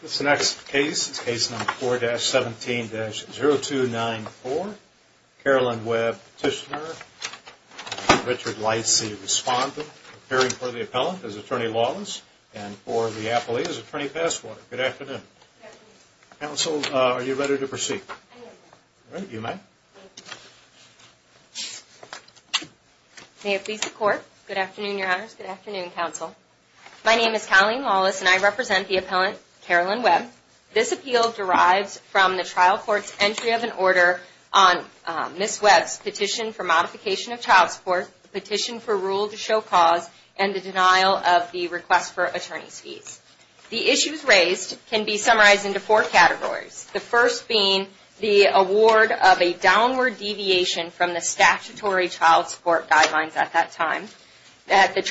This next case is Case Number 4-17-0294. Carolyn Webb, Petitioner. Richard Lightsey, Respondent. Preparing for the Appellant as Attorney Lawless and for the Appellee as Attorney Passwater. Good afternoon. Good afternoon. Counsel, are you ready to proceed? I am ready. All right, you may. Thank you. May it please the Court. Good afternoon, Your Honors. Good afternoon, Counsel. My name is Colleen Lawless and I represent the Appellant, Carolyn Webb. This appeal derives from the trial court's entry of an order on Ms. Webb's petition for modification of child support, the petition for rule to show cause, and the denial of the request for attorney's fees. The issues raised can be summarized into four categories, the first being the award of a downward deviation from the statutory child support guidelines at that time. Second, the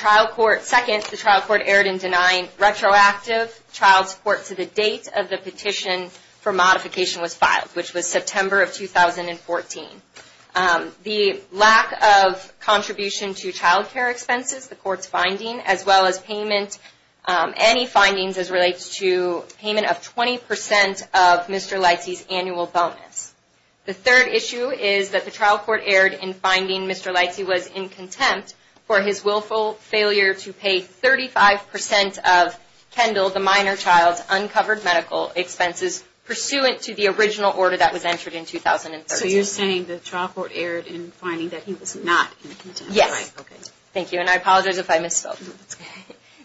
trial court erred in denying retroactive child support to the date of the petition for modification was filed, which was September of 2014. The lack of contribution to child care expenses, the Court's finding, as well as payment, any findings as relates to payment of 20% of Mr. Lightsey's annual bonus. The third issue is that the trial court erred in finding Mr. Lightsey was in contempt for his willful failure to pay 35% of Kendall, the minor child's, uncovered medical expenses pursuant to the original order that was entered in 2013. So you're saying the trial court erred in finding that he was not in contempt? Yes. Thank you, and I apologize if I misspoke.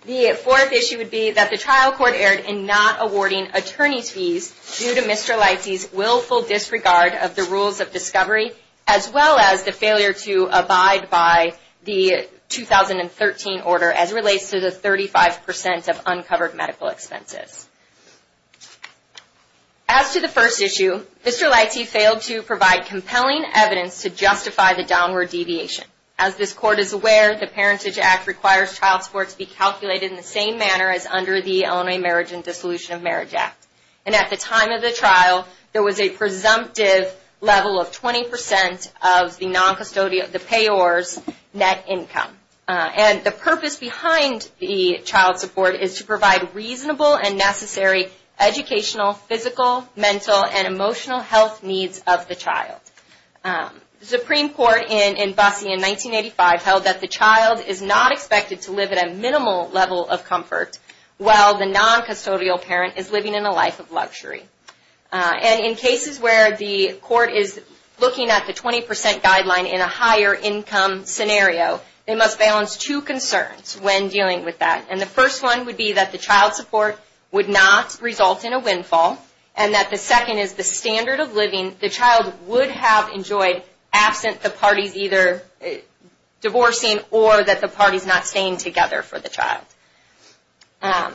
The fourth issue would be that the trial court erred in not awarding attorney's fees due to Mr. Lightsey's willful disregard of the rules of discovery, as well as the failure to abide by the 2013 order as relates to the 35% of uncovered medical expenses. As to the first issue, Mr. Lightsey failed to provide compelling evidence to justify the downward deviation. As this Court is aware, the Parentage Act requires child support to be calculated in the same manner as under the Illinois Marriage and Dissolution of Marriage Act. And at the time of the trial, there was a presumptive level of 20% of the payor's net income. And the purpose behind the child support is to provide reasonable and necessary educational, physical, mental, and emotional health needs of the child. The Supreme Court in Bussey in 1985 held that the child is not expected to live at a minimal level of comfort while the non-custodial parent is living in a life of luxury. And in cases where the court is looking at the 20% guideline in a higher income scenario, they must balance two concerns when dealing with that. And the first one would be that the child support would not result in a windfall, and that the second is the standard of living the child would have enjoyed absent the parties either divorcing or that the parties not staying together for the child. And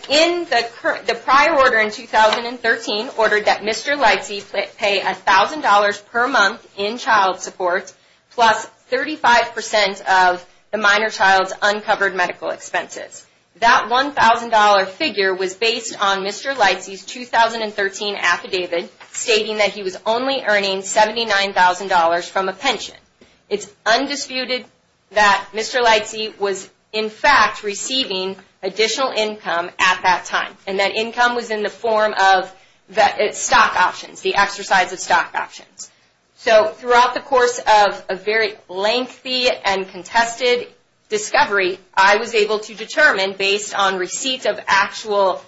the prior order in 2013 ordered that Mr. Lightsey pay $1,000 per month in child support plus 35% of the minor child's uncovered medical expenses. That $1,000 figure was based on Mr. Lightsey's 2013 affidavit stating that he was only earning $79,000 from a pension. It's undisputed that Mr. Lightsey was in fact receiving additional income at that time, and that income was in the form of stock options, the exercise of stock options. So throughout the course of a very lengthy and contested discovery, I was able to determine based on receipts of actual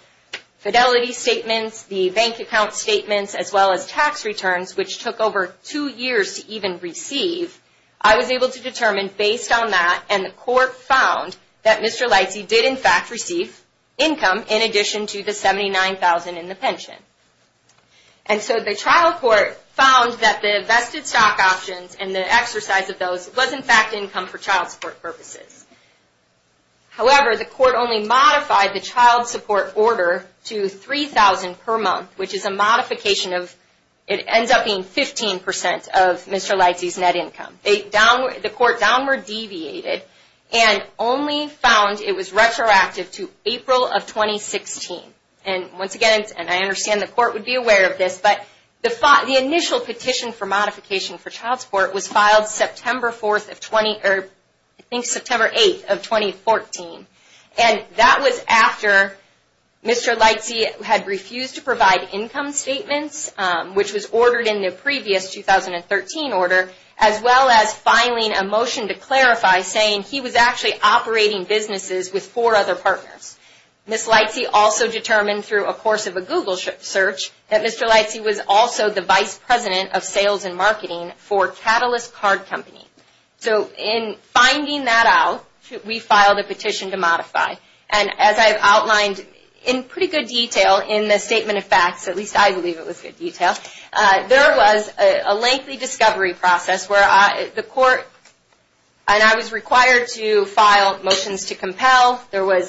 fidelity statements, the bank account statements, as well as tax returns, which took over two years to even receive. I was able to determine based on that, and the court found that Mr. Lightsey did in fact receive income in addition to the $79,000 in the pension. And so the trial court found that the vested stock options and the exercise of those was in fact income for child support purposes. However, the court only modified the child support order to $3,000 per month, which is a modification of, it ends up being 15% of Mr. Lightsey's net income. The court downward deviated and only found it was retroactive to April of 2016. And once again, and I understand the court would be aware of this, but the initial petition for modification for child support was filed September 8th of 2014. And that was after Mr. Lightsey had refused to provide income statements, which was ordered in the previous 2013 order, as well as filing a motion to clarify, saying he was actually operating businesses with four other partners. Ms. Lightsey also determined through a course of a Google search that Mr. Lightsey was also the vice president of sales and marketing for Catalyst Card Company. So in finding that out, we filed a petition to modify. And as I've outlined in pretty good detail in the statement of facts, at least I believe it was good detail, there was a lengthy discovery process where the court, and I was required to file motions to compel. There was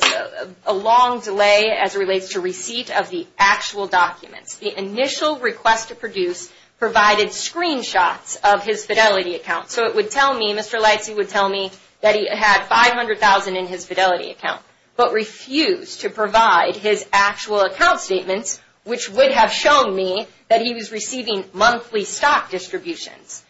a long delay as it relates to receipt of the actual documents. The initial request to produce provided screenshots of his Fidelity account. So it would tell me, Mr. Lightsey would tell me that he had $500,000 in his Fidelity account, but refused to provide his actual account statements, which would have shown me that he was receiving monthly stock distributions.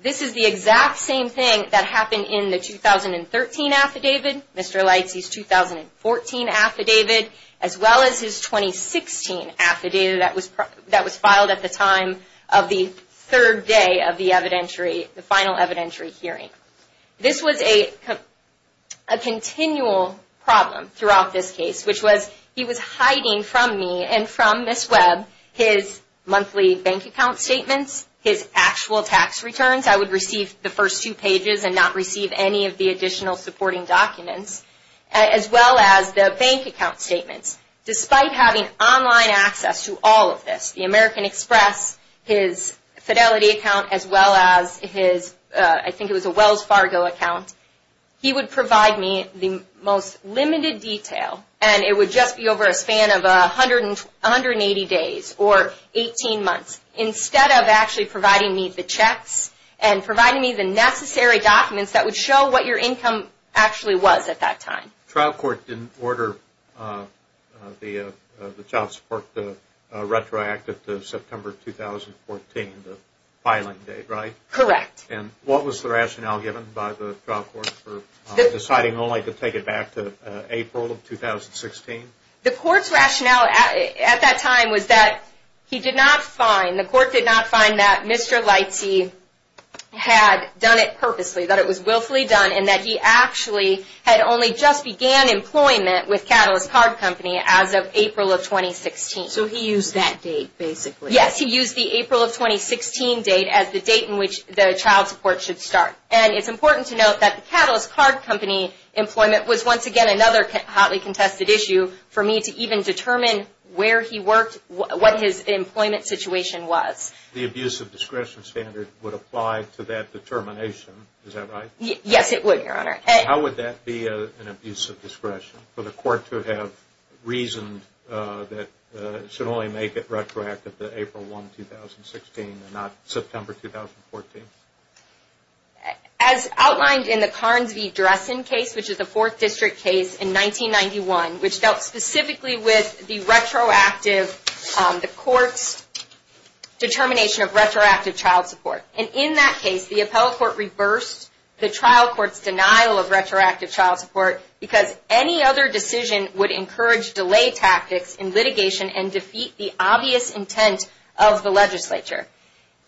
This is the exact same thing that happened in the 2013 affidavit, Mr. Lightsey's 2014 affidavit, as well as his 2016 affidavit that was filed at the time of the third day of the evidentiary, the final evidentiary hearing. This was a continual problem throughout this case, which was he was hiding from me and from Ms. Webb his monthly bank account statements, his actual tax returns. I would receive the first two pages and not receive any of the additional supporting documents, as well as the bank account statements. Despite having online access to all of this, the American Express, his Fidelity account, as well as his, I think it was a Wells Fargo account, he would provide me the most limited detail, and it would just be over a span of 180 days or 18 months, instead of actually providing me the checks and providing me the necessary documents that would show what your income actually was at that time. The trial court didn't order the Child Support Retroactive to September 2014, the filing date, right? Correct. And what was the rationale given by the trial court for deciding only to take it back to April of 2016? The court's rationale at that time was that he did not find, the court did not find that Mr. Lightsey had done it purposely, that it was willfully done, and that he actually had only just began employment with Catalyst Card Company as of April of 2016. So he used that date, basically. Yes, he used the April of 2016 date as the date in which the child support should start. And it's important to note that the Catalyst Card Company employment was once again another hotly contested issue for me to even determine where he worked, what his employment situation was. The abuse of discretion standard would apply to that determination, is that right? Yes, it would, Your Honor. How would that be an abuse of discretion for the court to have reasoned that it should only make it retroactive to April 1, 2016 and not September 2014? As outlined in the Carnes v. Dressen case, which is a Fourth District case in 1991, which dealt specifically with the retroactive, the court's determination of retroactive child support. And in that case, the appellate court reversed the trial court's denial of retroactive child support because any other decision would encourage delay tactics in litigation and defeat the obvious intent of the legislature.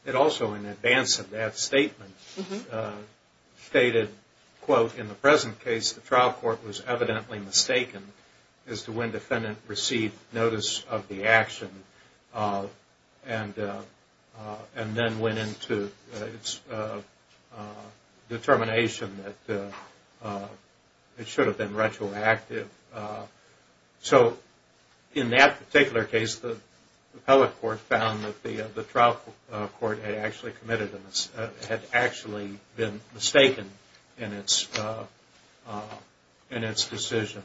It also, in advance of that statement, stated, quote, in the present case the trial court was evidently mistaken as to when defendant received notice of the action and then went into its determination that it should have been retroactive. So in that particular case, the appellate court found that the trial court had actually committed, had actually been mistaken in its decision.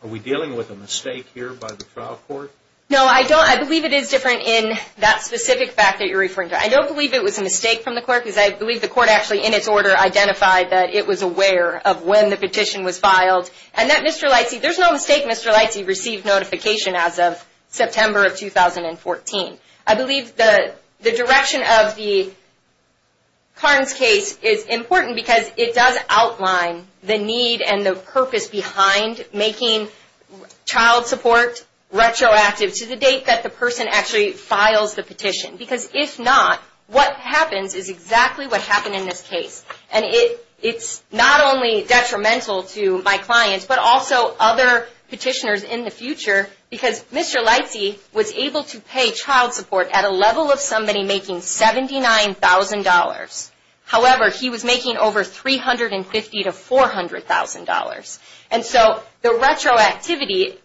Are we dealing with a mistake here by the trial court? No, I don't. I believe it is different in that specific fact that you're referring to. I don't believe it was a mistake from the court because I believe the court actually, in its order, identified that it was aware of when the petition was filed. And that Mr. Leitze, there's no mistake, Mr. Leitze received notification as of September of 2014. I believe the direction of the Carnes case is important because it does outline the need and the purpose behind making child support retroactive to the date that the person actually files the petition. Because if not, what happens is exactly what happened in this case. And it's not only detrimental to my clients but also other petitioners in the future because Mr. Leitze was able to pay child support at a level of somebody making $79,000. However, he was making over $350,000 to $400,000. And so the retroactivity,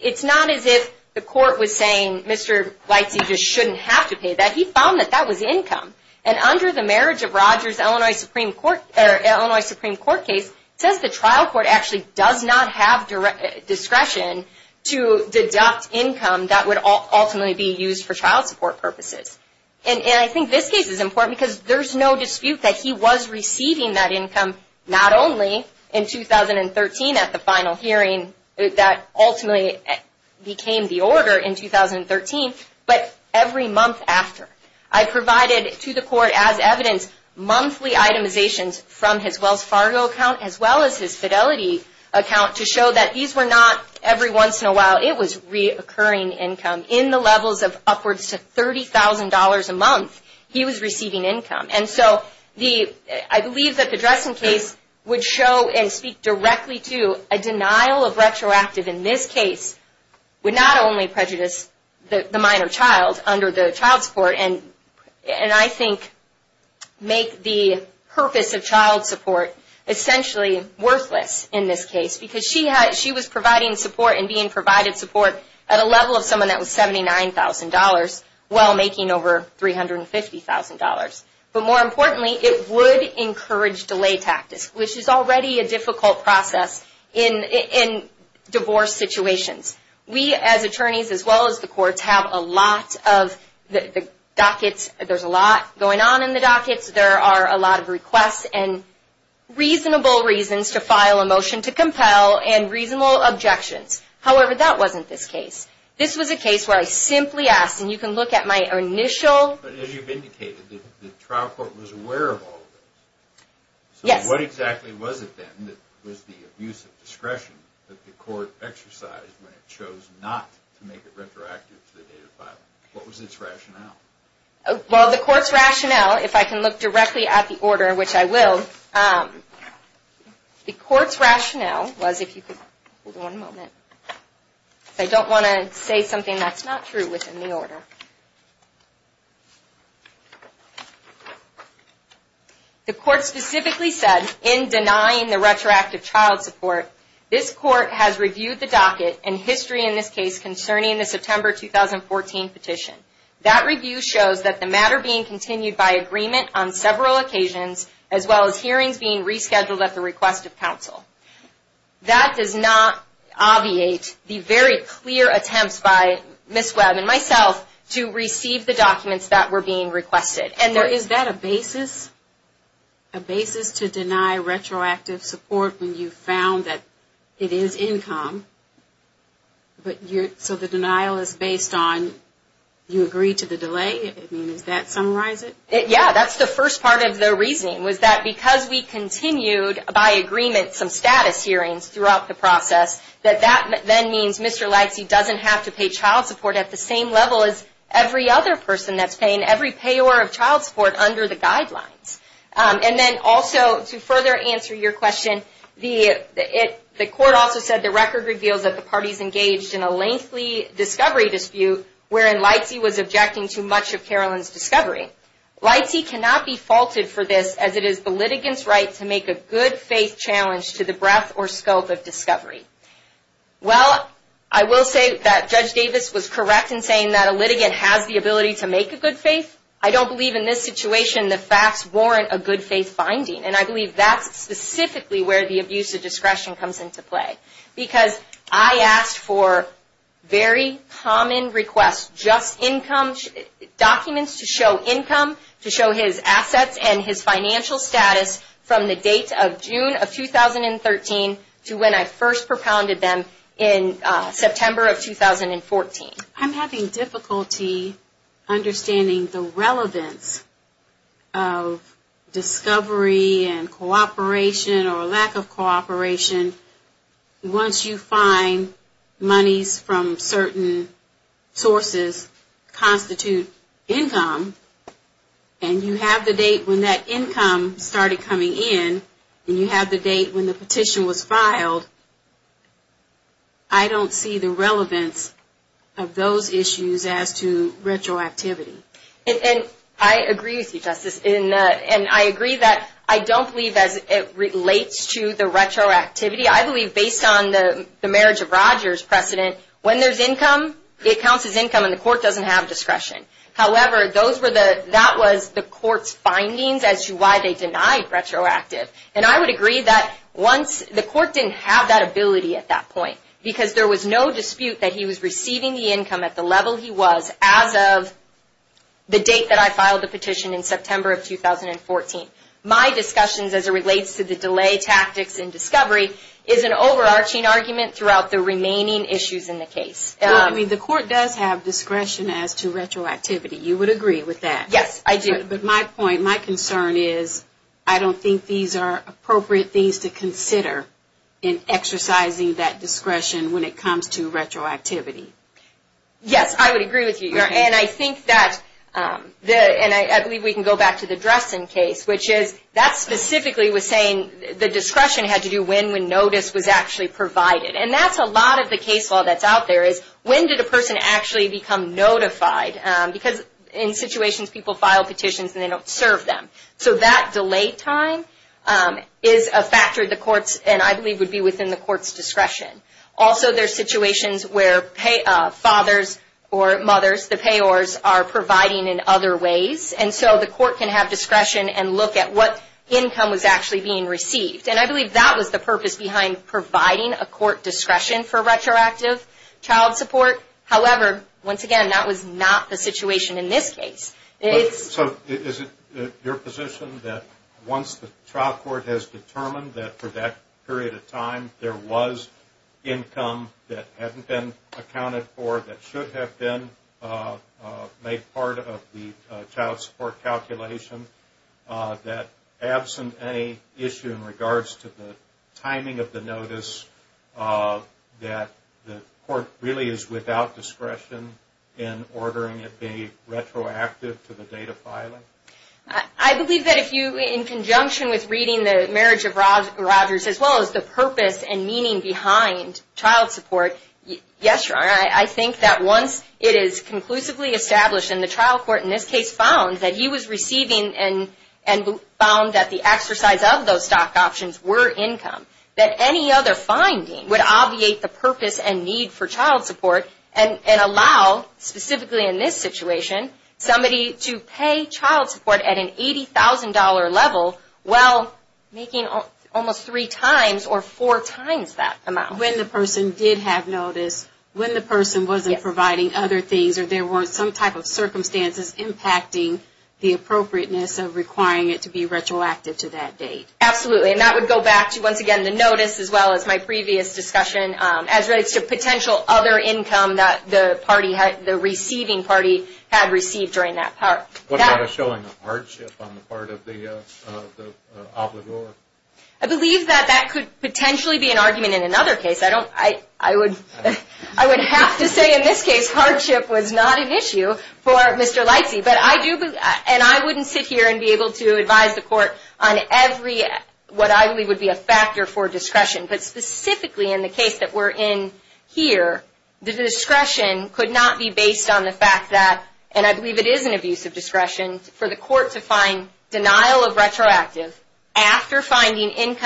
it's not as if the court was saying Mr. Leitze just shouldn't have to pay that. He found that that was income. And under the Marriage of Rogers, Illinois Supreme Court case, it says the trial court actually does not have discretion to deduct income that would ultimately be used for child support purposes. And I think this case is important because there's no dispute that he was receiving that income not only in 2013 at the final hearing that ultimately became the order in 2013, but every month after. I provided to the court as evidence monthly itemizations from his Wells Fargo account as well as his Fidelity account to show that these were not every once in a while. It was reoccurring income. In the levels of upwards to $30,000 a month, he was receiving income. And so I believe that the Dressen case would show and speak directly to a denial of retroactive in this case would not only prejudice the minor child under the child support and I think make the purpose of child support essentially worthless in this case because she was providing support and being provided support at a level of someone that was $79,000 while making over $350,000. But more importantly, it would encourage delay tactics, which is already a difficult process in divorce situations. We as attorneys as well as the courts have a lot of the dockets. There's a lot going on in the dockets. There are a lot of requests and reasonable reasons to file a motion to compel and reasonable objections. However, that wasn't this case. This was a case where I simply asked, and you can look at my initial... But as you've indicated, the trial court was aware of all of this. Yes. So what exactly was it then that was the abuse of discretion that the court exercised when it chose not to make it retroactive to the date of filing? What was its rationale? Well, the court's rationale, if I can look directly at the order, which I will, the court's rationale was if you could... Hold on a moment. I don't want to say something that's not true within the order. The court specifically said, in denying the retroactive child support, this court has reviewed the docket and history in this case concerning the September 2014 petition. That review shows that the matter being continued by agreement on several occasions, as well as hearings being rescheduled at the request of counsel. That does not obviate the very clear attempts by Ms. Webb and myself to receive the documents that were being requested. Is that a basis? A basis to deny retroactive support when you found that it is income? So the denial is based on you agree to the delay? I mean, does that summarize it? Yeah, that's the first part of the reasoning, was that because we continued by agreement some status hearings throughout the process, that that then means Mr. Lagsy doesn't have to pay child support at the same level as every other person that's paying every payor of child support under the guidelines. And then also, to further answer your question, the court also said the record reveals that the parties engaged in a lengthy discovery dispute wherein Lagsy was objecting to much of Carolyn's discovery. Lagsy cannot be faulted for this, as it is the litigant's right to make a good faith challenge to the breadth or scope of discovery. Well, I will say that Judge Davis was correct in saying that a litigant has the ability to make a good faith. I don't believe in this situation the facts warrant a good faith finding. And I believe that's specifically where the abuse of discretion comes into play. Because I asked for very common requests, just income, documents to show income, to show his assets and his financial status from the date of June of 2013 to when I first propounded them in September of 2014. I'm having difficulty understanding the relevance of discovery and cooperation or lack of cooperation once you find monies from certain sources constitute income. And you have the date when that income started coming in, and you have the date when the petition was filed. I don't see the relevance of those issues as to retroactivity. And I agree with you, Justice. And I agree that I don't believe as it relates to the retroactivity, I believe based on the marriage of Rogers precedent, when there's income, it counts as income and the court doesn't have discretion. However, that was the court's findings as to why they denied retroactive. And I would agree that the court didn't have that ability at that point because there was no dispute that he was receiving the income at the level he was as of the date that I filed the petition in September of 2014. My discussions as it relates to the delay tactics in discovery is an overarching argument throughout the remaining issues in the case. Well, I mean, the court does have discretion as to retroactivity. You would agree with that? Yes, I do. But my point, my concern is I don't think these are appropriate things to consider in exercising that discretion when it comes to retroactivity. Yes, I would agree with you. And I think that, and I believe we can go back to the Dressen case, which is that specifically was saying the discretion had to do when notice was actually provided. And that's a lot of the case law that's out there is when did a person actually become notified? Because in situations people file petitions and they don't serve them. So that delay time is a factor the courts, and I believe would be within the court's discretion. Also, there are situations where fathers or mothers, the payors, are providing in other ways. And so the court can have discretion and look at what income was actually being received. And I believe that was the purpose behind providing a court discretion for retroactive child support. However, once again, that was not the situation in this case. So is it your position that once the child court has determined that for that period of time there was income that hadn't been accounted for, that should have been made part of the child support calculation, that absent any issue in regards to the timing of the notice, that the court really is without discretion in ordering it be retroactive to the date of filing? I believe that if you, in conjunction with reading the marriage of Rogers, as well as the purpose and meaning behind child support, yes, Your Honor, I think that once it is conclusively established, and the trial court in this case found that he was receiving and found that the exercise of those stock options were income, that any other finding would obviate the purpose and need for child support and allow, specifically in this situation, somebody to pay child support at an $80,000 level while making almost three times or four times that amount. When the person did have notice, when the person wasn't providing other things or there weren't some type of circumstances impacting the appropriateness of requiring it to be retroactive to that date. Absolutely. And that would go back to, once again, the notice as well as my previous discussion as relates to potential other income that the receiving party had received during that part. What about a showing of hardship on the part of the obligor? I believe that that could potentially be an argument in another case. I would have to say in this case hardship was not an issue for Mr. Leitze. I wouldn't sit here and be able to advise the court on what I believe would be a factor for discretion, but specifically in the case that we're in here, the discretion could not be based on the fact that, and I believe it is an abuse of discretion, for the court to find denial of retroactive after finding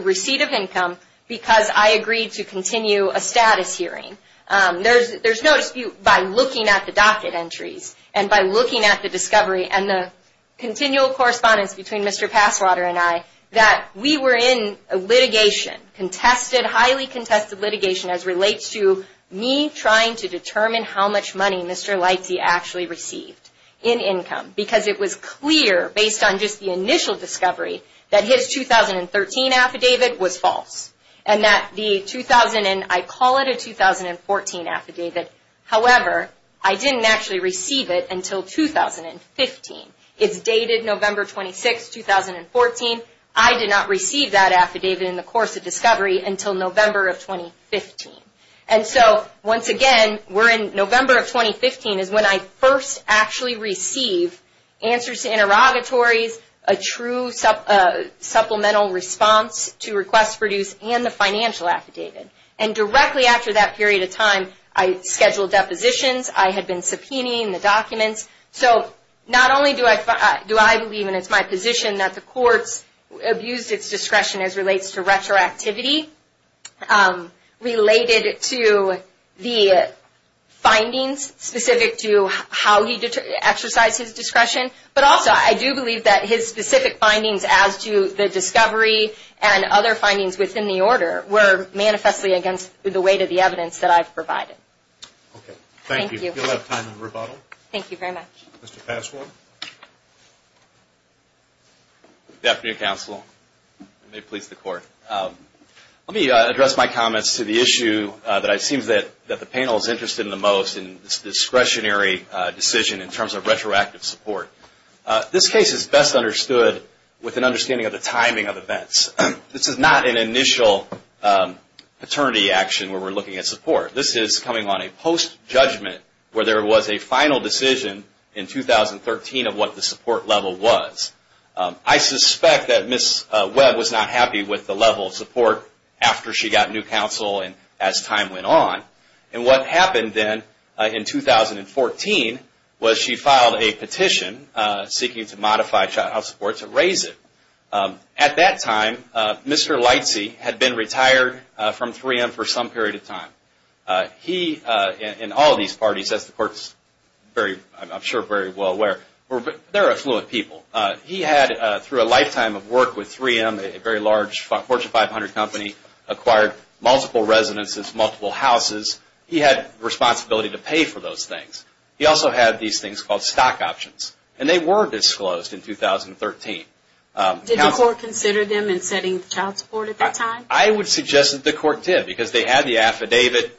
receipt of income because I agreed to continue a status hearing. There's no dispute by looking at the docket entries and by looking at the discovery and the continual correspondence between Mr. Passwater and I that we were in litigation, contested, highly contested litigation as relates to me trying to determine how much money Mr. Leitze actually received in income because it was clear based on just the initial discovery that his 2013 affidavit was false and that the 2000, and I call it a 2014 affidavit, however, I didn't actually receive it until 2015. It's dated November 26, 2014. I did not receive that affidavit in the course of discovery until November of 2015. And so, once again, we're in November of 2015 is when I first actually received answers to interrogatories, a true supplemental response to requests produced and the financial affidavit. And directly after that period of time, I scheduled depositions. I had been subpoenaing the documents. So not only do I believe, and it's my position, that the courts abused its discretion as relates to retroactivity related to the findings specific to how he exercised his discretion, but also I do believe that his specific findings as to the discovery and other findings within the order were manifestly against the weight of the evidence that I've provided. Okay. Thank you. Thank you. We'll have time for rebuttal. Thank you very much. Mr. Passmore. Good afternoon, Counsel. May it please the Court. Let me address my comments to the issue that it seems that the panel is interested in the most, this discretionary decision in terms of retroactive support. This case is best understood with an understanding of the timing of events. This is not an initial paternity action where we're looking at support. This is coming on a post-judgment where there was a final decision in 2013 of what the support level was. I suspect that Ms. Webb was not happy with the level of support after she got new counsel and as time went on. And what happened then in 2014 was she filed a petition seeking to modify child support to raise it. At that time, Mr. Lightsey had been retired from 3M for some period of time. He, in all of these parties, as the Court's, I'm sure, very well aware, they're affluent people. He had, through a lifetime of work with 3M, a very large Fortune 500 company, acquired multiple residences, multiple houses. He had responsibility to pay for those things. He also had these things called stock options. And they were disclosed in 2013. Did the Court consider them in setting child support at that time? I would suggest that the Court did because they had the affidavit.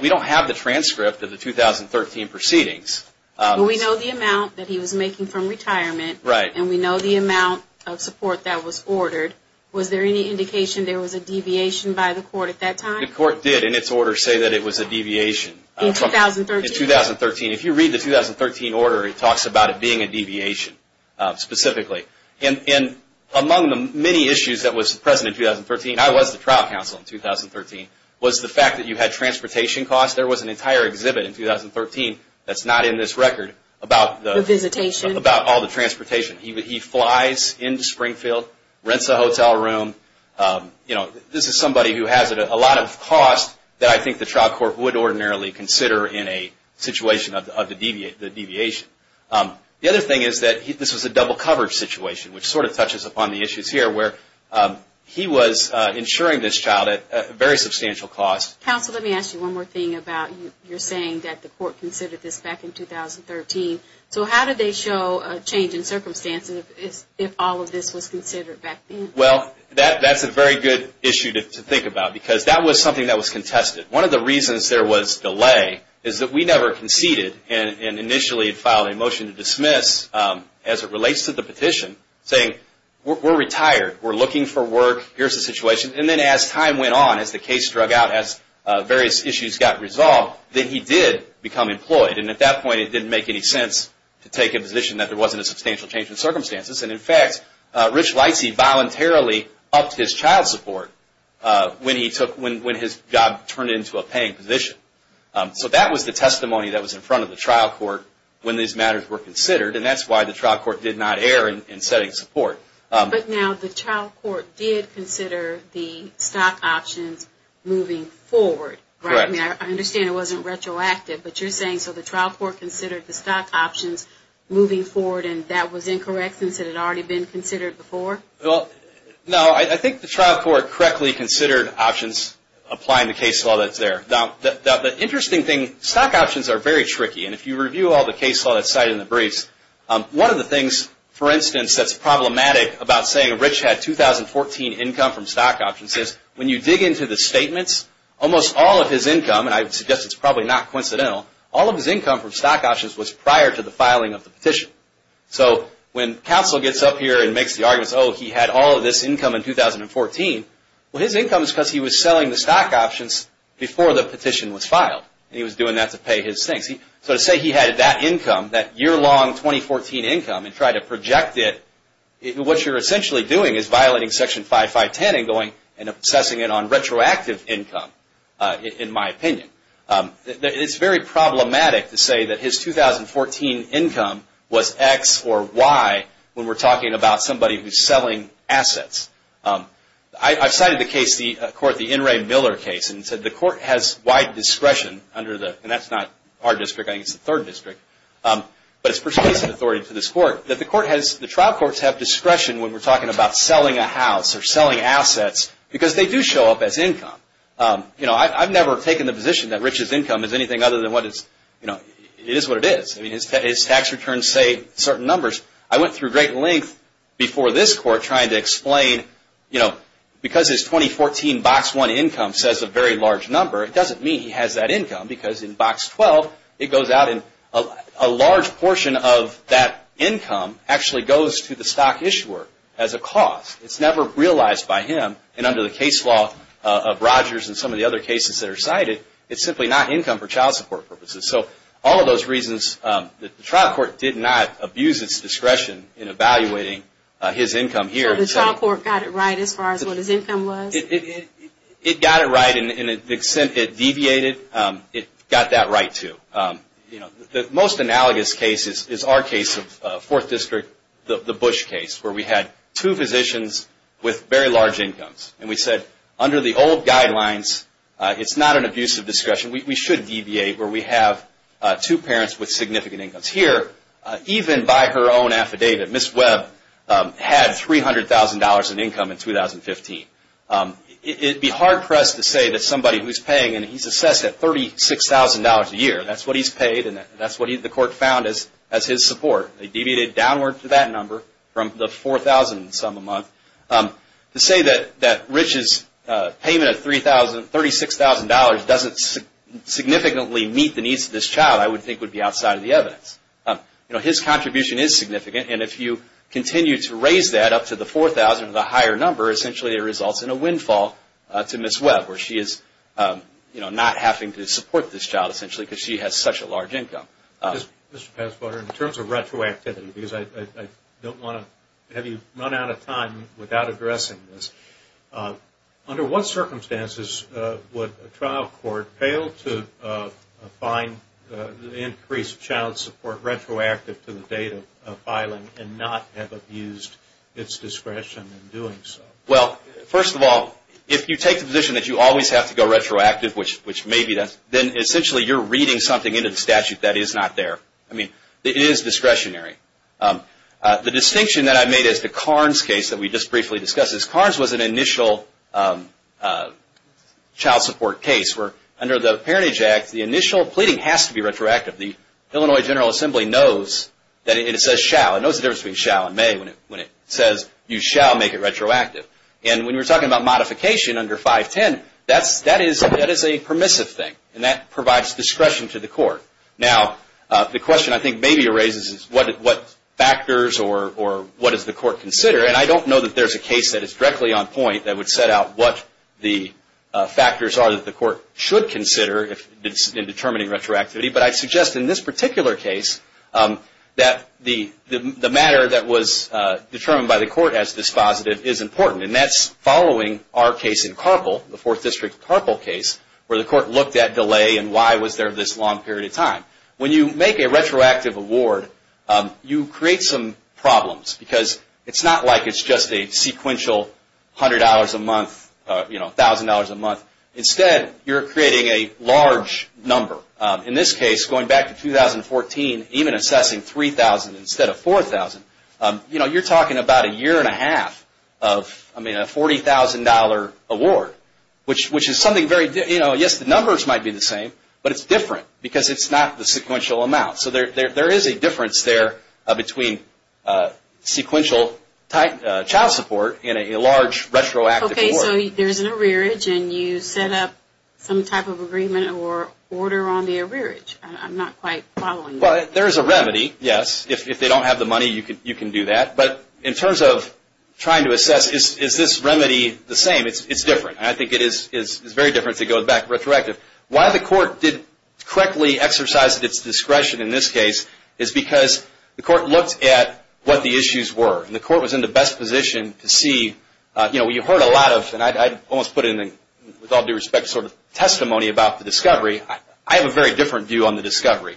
We don't have the transcript of the 2013 proceedings. But we know the amount that he was making from retirement. Right. And we know the amount of support that was ordered. Was there any indication there was a deviation by the Court at that time? The Court did, in its order, say that it was a deviation. In 2013? In 2013. If you read the 2013 order, it talks about it being a deviation, specifically. And among the many issues that was present in 2013, I was the trial counsel in 2013, was the fact that you had transportation costs. There was an entire exhibit in 2013 that's not in this record about all the transportation. He flies into Springfield, rents a hotel room. This is somebody who has a lot of costs that I think the trial court would ordinarily consider in a situation of the deviation. The other thing is that this was a double coverage situation, which sort of touches upon the issues here where he was insuring this child at a very substantial cost. Counsel, let me ask you one more thing about you saying that the Court considered this back in 2013. So how did they show a change in circumstances if all of this was considered back then? Well, that's a very good issue to think about because that was something that was contested. One of the reasons there was delay is that we never conceded and initially had filed a motion to dismiss as it relates to the petition saying, we're retired, we're looking for work, here's the situation. And then as time went on, as the case drug out, as various issues got resolved, then he did become employed. And at that point it didn't make any sense to take a position that there wasn't a substantial change in circumstances. And in fact, Rich Leisey voluntarily upped his child support when his job turned into a paying position. So that was the testimony that was in front of the trial court when these matters were considered, and that's why the trial court did not err in setting support. But now the trial court did consider the stock options moving forward, right? Correct. I understand it wasn't retroactive, but you're saying so the trial court considered the stock options moving forward and that was incorrect since it had already been considered before? No, I think the trial court correctly considered options applying the case law that's there. Now, the interesting thing, stock options are very tricky, and if you review all the case law that's cited in the briefs, one of the things, for instance, that's problematic about saying Rich had 2014 income from stock options is when you dig into the statements, almost all of his income, and I suggest it's probably not coincidental, all of his income from stock options was prior to the filing of the petition. So when counsel gets up here and makes the arguments, oh, he had all of this income in 2014, well, his income is because he was selling the stock options before the petition was filed, and he was doing that to pay his things. So to say he had that income, that year-long 2014 income, and try to project it, what you're essentially doing is violating Section 5510 and obsessing it on retroactive income, in my opinion. It's very problematic to say that his 2014 income was X or Y when we're talking about somebody who's selling assets. I've cited the case, the court, the In re Miller case, and said the court has wide discretion under the, and that's not our district, I think it's the third district, but it's persuasive authority to this court that the trial courts have discretion when we're talking about selling a house or selling assets because they do show up as income. I've never taken the position that Rich's income is anything other than what it is. His tax returns say certain numbers. I went through great length before this court trying to explain, because his 2014 box one income says a very large number, it doesn't mean he has that income because in box 12, it goes out and a large portion of that income actually goes to the stock issuer as a cost. It's never realized by him, and under the case law of Rogers and some of the other cases that are cited, it's simply not income for child support purposes. So all of those reasons, the trial court did not abuse its discretion in evaluating his income here. So the trial court got it right as far as what his income was? It got it right in the extent it deviated, it got that right too. The most analogous case is our case of Fourth District, the Bush case, where we had two physicians with very large incomes, and we said, under the old guidelines, it's not an abuse of discretion. We should deviate where we have two parents with significant incomes. Even by her own affidavit, Ms. Webb had $300,000 in income in 2015. It would be hard-pressed to say that somebody who's paying, and he's assessed at $36,000 a year, that's what he's paid, and that's what the court found as his support. They deviated downward to that number from the $4,000 and some a month. To say that Rich's payment of $36,000 doesn't significantly meet the needs of this child, I would think would be outside of the evidence. You know, his contribution is significant, and if you continue to raise that up to the $4,000 or the higher number, essentially it results in a windfall to Ms. Webb, where she is not having to support this child essentially because she has such a large income. Mr. Passwater, in terms of retroactivity, because I don't want to have you run out of time without addressing this, under what circumstances would a trial court fail to find the increased child support retroactive to the date of filing and not have abused its discretion in doing so? Well, first of all, if you take the position that you always have to go retroactive, which maybe does, then essentially you're reading something into the statute that is not there. I mean, it is discretionary. The distinction that I made as to Karn's case that we just briefly discussed is Karn's was an initial child support case where under the Parentage Act, the initial pleading has to be retroactive. The Illinois General Assembly knows that it says shall. It knows the difference between shall and may when it says you shall make it retroactive. And when you're talking about modification under 510, that is a permissive thing, and that provides discretion to the court. Now, the question I think maybe raises is what factors or what does the court consider? And I don't know that there's a case that is directly on point that would set out what the factors are that the court should consider in determining retroactivity, but I'd suggest in this particular case that the matter that was determined by the court as dispositive is important. And that's following our case in Carpel, the Fourth District Carpel case, where the court looked at delay and why was there this long period of time. When you make a retroactive award, you create some problems because it's not like it's just a sequential $100 a month, you know, $1,000 a month. Instead, you're creating a large number. In this case, going back to 2014, even assessing $3,000 instead of $4,000, you know, you're talking about a year and a half of, I mean, a $40,000 award, which is something very, you know, yes, the numbers might be the same, but it's different because it's not the sequential amount. So there is a difference there between sequential child support and a large retroactive award. Okay, so there's an arrearage and you set up some type of agreement or order on the arrearage. I'm not quite following that. Well, there is a remedy, yes. If they don't have the money, you can do that. But in terms of trying to assess, is this remedy the same? I mean, it's different, and I think it is very different to go back retroactive. Why the court didn't correctly exercise its discretion in this case is because the court looked at what the issues were. And the court was in the best position to see, you know, you heard a lot of, and I almost put it in, with all due respect, sort of testimony about the discovery. I have a very different view on the discovery.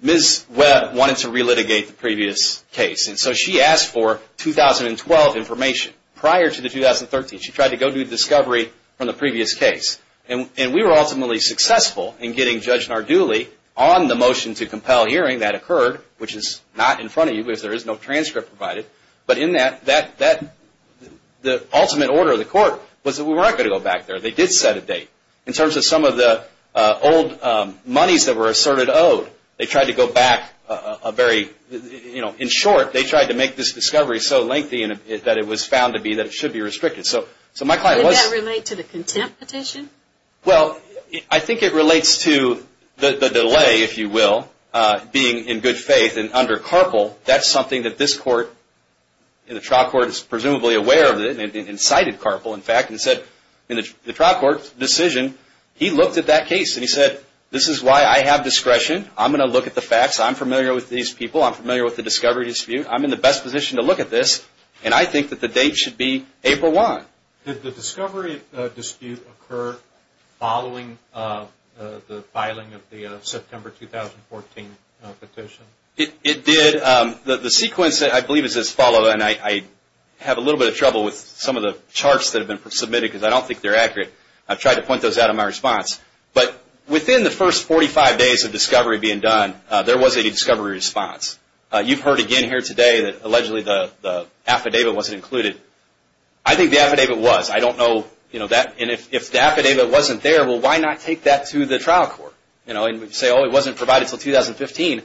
Ms. Webb wanted to relitigate the previous case, and so she asked for 2012 information. Prior to the 2013, she tried to go do the discovery from the previous case. And we were ultimately successful in getting Judge Nardulli on the motion to compel hearing that occurred, which is not in front of you because there is no transcript provided. But in that, the ultimate order of the court was that we weren't going to go back there. They did set a date. In terms of some of the old monies that were asserted owed, they tried to go back a very, you know, In short, they tried to make this discovery so lengthy that it was found to be that it should be restricted. Would that relate to the contempt petition? Well, I think it relates to the delay, if you will, being in good faith. And under Carpel, that's something that this court, the trial court is presumably aware of it, and cited Carpel, in fact, and said in the trial court's decision, he looked at that case and he said, this is why I have discretion. I'm going to look at the facts. I'm familiar with these people. I'm familiar with the discovery dispute. I'm in the best position to look at this, and I think that the date should be April 1. Did the discovery dispute occur following the filing of the September 2014 petition? It did. The sequence, I believe, is as follows, and I have a little bit of trouble with some of the charts that have been submitted because I don't think they're accurate. I've tried to point those out in my response. But within the first 45 days of discovery being done, there was a discovery response. You've heard again here today that allegedly the affidavit wasn't included. I think the affidavit was. I don't know that. And if the affidavit wasn't there, well, why not take that to the trial court and say, oh, it wasn't provided until 2015?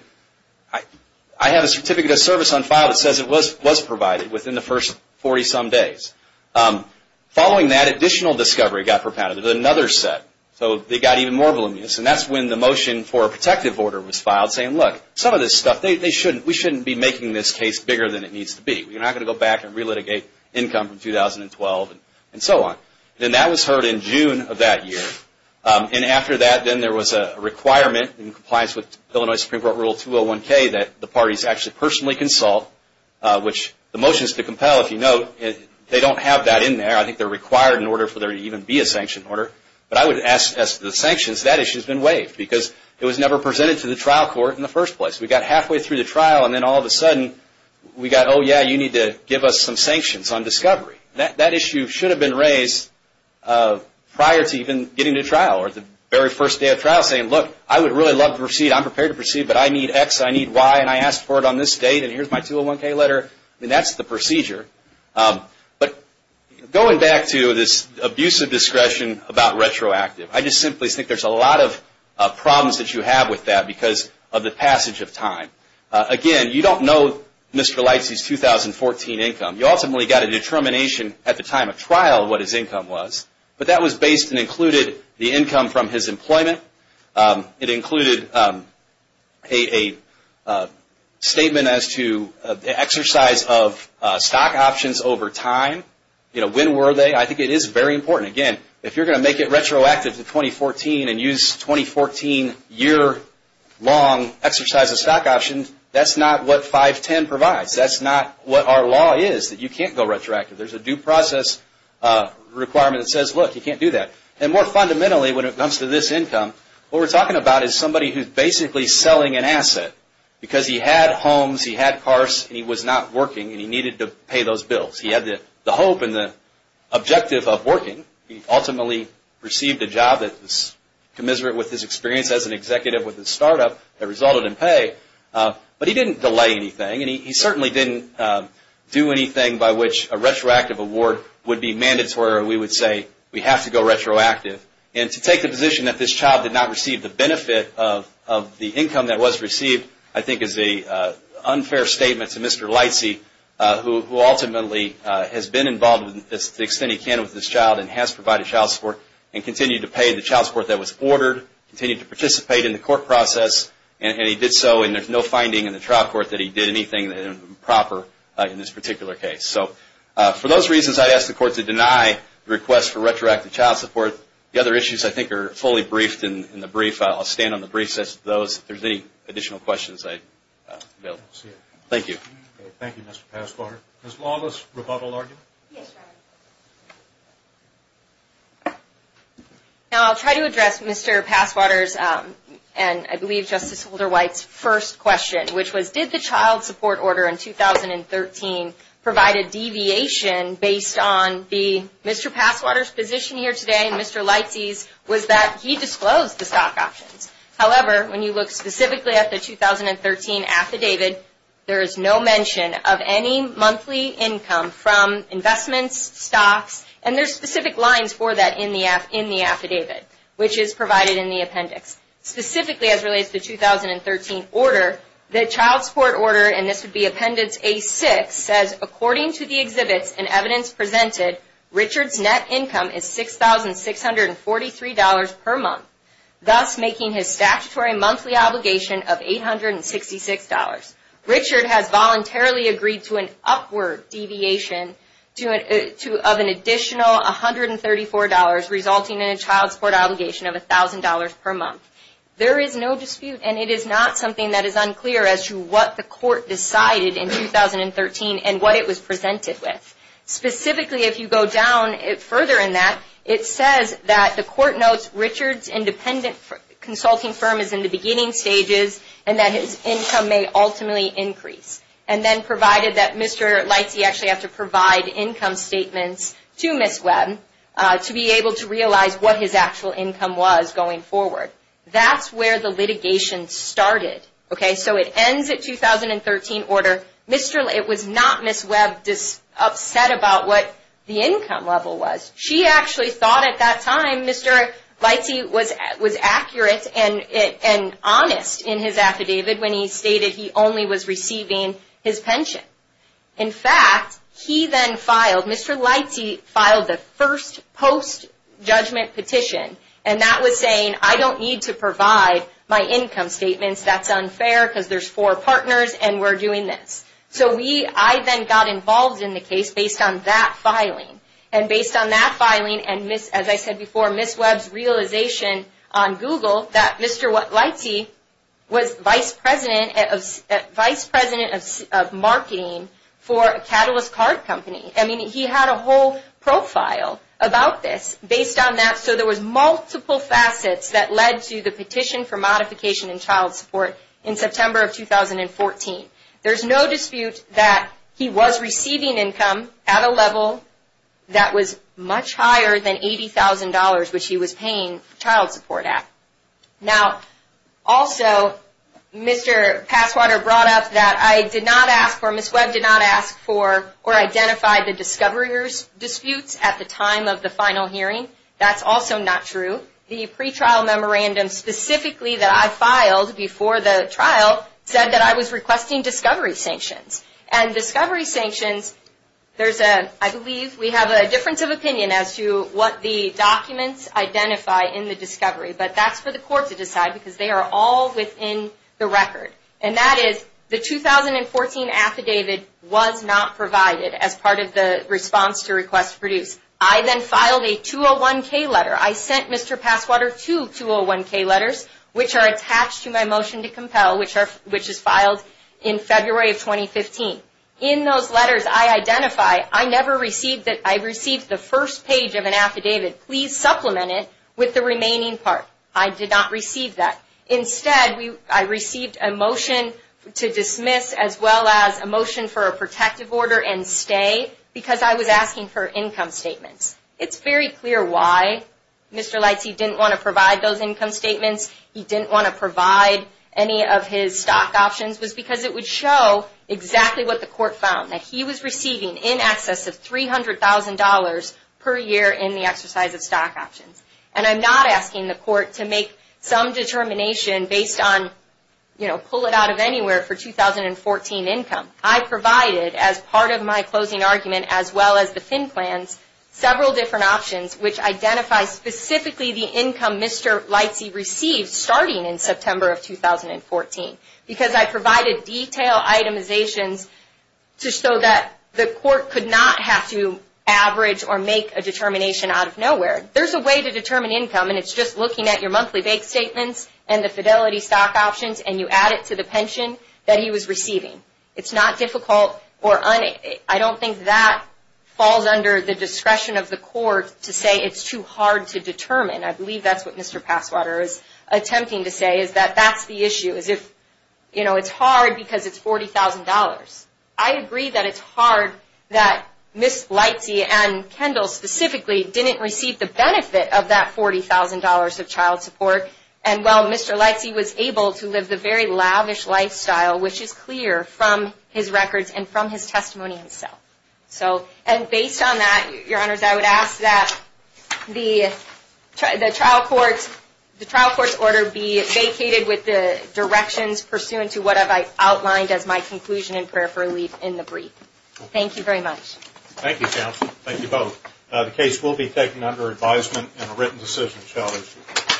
I have a certificate of service on file that says it was provided within the first 40-some days. Following that, additional discovery got propounded. There was another set, so they got even more voluminous, and that's when the motion for a protective order was filed saying, look, some of this stuff, we shouldn't be making this case bigger than it needs to be. We're not going to go back and relitigate income from 2012 and so on. And that was heard in June of that year. And after that, then there was a requirement in compliance with Illinois Supreme Court Rule 201K that the parties actually personally consult, which the motion is to compel, if you note. They don't have that in there. I think they're required in order for there to even be a sanction order. But I would ask as to the sanctions, that issue has been waived because it was never presented to the trial court in the first place. We got halfway through the trial, and then all of a sudden we got, oh, yeah, you need to give us some sanctions on discovery. That issue should have been raised prior to even getting to trial or the very first day of trial saying, look, I would really love to proceed. I'm prepared to proceed, but I need X, I need Y, and I asked for it on this date, and here's my 201K letter. I mean, that's the procedure. But going back to this abuse of discretion about retroactive, I just simply think there's a lot of problems that you have with that because of the passage of time. Again, you don't know Mr. Lightsey's 2014 income. You ultimately got a determination at the time of trial what his income was, but that was based and included the income from his employment. It included a statement as to the exercise of stock options over time. When were they? I think it is very important. Again, if you're going to make it retroactive to 2014 and use 2014 year-long exercise of stock options, that's not what 510 provides. That's not what our law is that you can't go retroactive. There's a due process requirement that says, look, you can't do that. More fundamentally, when it comes to this income, what we're talking about is somebody who's basically selling an asset because he had homes, he had cars, and he was not working, and he needed to pay those bills. He had the hope and the objective of working. He ultimately received a job that was commiserate with his experience as an executive with a startup that resulted in pay, but he didn't delay anything, and he certainly didn't do anything by which a retroactive award would be mandatory where we would say we have to go retroactive. To take the position that this child did not receive the benefit of the income that was received, I think is an unfair statement to Mr. Lightsey, who ultimately has been involved to the extent he can with this child and has provided child support and continued to pay the child support that was ordered, continued to participate in the court process, and he did so, and there's no finding in the trial court that he did anything improper in this particular case. So for those reasons, I'd ask the court to deny the request for retroactive child support. The other issues I think are fully briefed in the brief. I'll stand on the briefsets of those. If there's any additional questions, I'd be available. Thank you. Thank you, Mr. Passwater. Ms. Lawless, rebuttal argument? Yes, Your Honor. I'll try to address Mr. Passwater's and I believe Justice Holder-White's first question, which was did the child support order in 2013 provide a deviation based on the Mr. Passwater's position here today and Mr. Lightsey's was that he disclosed the stock options. However, when you look specifically at the 2013 affidavit, there is no mention of any monthly income from investments, stocks, and there's specific lines for that in the affidavit, which is provided in the appendix. Specifically, as relates to the 2013 order, the child support order, and this would be appendix A-6, says according to the exhibits and evidence presented, Richard's net income is $6,643 per month, thus making his statutory monthly obligation of $866. Richard has voluntarily agreed to an upward deviation of an additional $134, resulting in a child support obligation of $1,000 per month. There is no dispute and it is not something that is unclear as to what the court decided in 2013 and what it was presented with. Specifically, if you go down further in that, it says that the court notes Richard's independent consulting firm is in the beginning stages and that his income may ultimately increase. And then provided that Mr. Leitze actually has to provide income statements to Ms. Webb to be able to realize what his actual income was going forward. That's where the litigation started. So it ends at 2013 order. It was not Ms. Webb upset about what the income level was. She actually thought at that time Mr. Leitze was accurate and honest in his affidavit when he stated he only was receiving his pension. In fact, he then filed, Mr. Leitze filed the first post-judgment petition and that was saying I don't need to provide my income statements. That's unfair because there's four partners and we're doing this. So I then got involved in the case based on that filing. And based on that filing and, as I said before, Ms. Webb's realization on Google that Mr. Leitze was vice president of marketing for a catalyst card company. I mean he had a whole profile about this based on that. So there was multiple facets that led to the petition for modification in child support in September of 2014. There's no dispute that he was receiving income at a level that was much higher than $80,000 which he was paying child support at. Now, also, Mr. Passwater brought up that I did not ask for, Ms. Webb did not ask for or identify the discovery disputes at the time of the final hearing. That's also not true. The pretrial memorandum specifically that I filed before the trial said that I was requesting discovery sanctions. And discovery sanctions, there's a, I believe we have a difference of opinion as to what the documents identify in the discovery. But that's for the court to decide because they are all within the record. And that is the 2014 affidavit was not provided as part of the response to request to produce. I then filed a 201-K letter. I sent Mr. Passwater two 201-K letters which are attached to my motion to compel, which is filed in February of 2015. In those letters I identify, I never received, I received the first page of an affidavit, please supplement it with the remaining part. I did not receive that. Instead, I received a motion to dismiss as well as a motion for a protective order and stay because I was asking for income statements. It's very clear why Mr. Lightsey didn't want to provide those income statements. He didn't want to provide any of his stock options was because it would show exactly what the court found, that he was receiving in excess of $300,000 per year in the exercise of stock options. And I'm not asking the court to make some determination based on, you know, pull it out of anywhere for 2014 income. I provided as part of my closing argument as well as the FIN plans several different options which identify specifically the income Mr. Lightsey received starting in September of 2014 because I provided detailed itemizations to show that the court could not have to average or make a determination out of nowhere. There's a way to determine income and it's just looking at your monthly bank statements and the fidelity stock options and you add it to the pension that he was receiving. It's not difficult or I don't think that falls under the discretion of the court to say it's too hard to determine. I believe that's what Mr. Passwater is attempting to say, is that that's the issue, you know, it's hard because it's $40,000. I agree that it's hard that Ms. Lightsey and Kendall specifically didn't receive the benefit of that $40,000 of child support and while Mr. Lightsey was able to live the very lavish lifestyle which is clear from his records and from his testimony himself. And based on that, Your Honors, I would ask that the trial court's order be vacated with the directions pursuant to what I've outlined as my conclusion and prayer for relief in the brief. Thank you very much. Thank you, Counsel. Thank you both. The case will be taken under advisement and a written decision shall issue.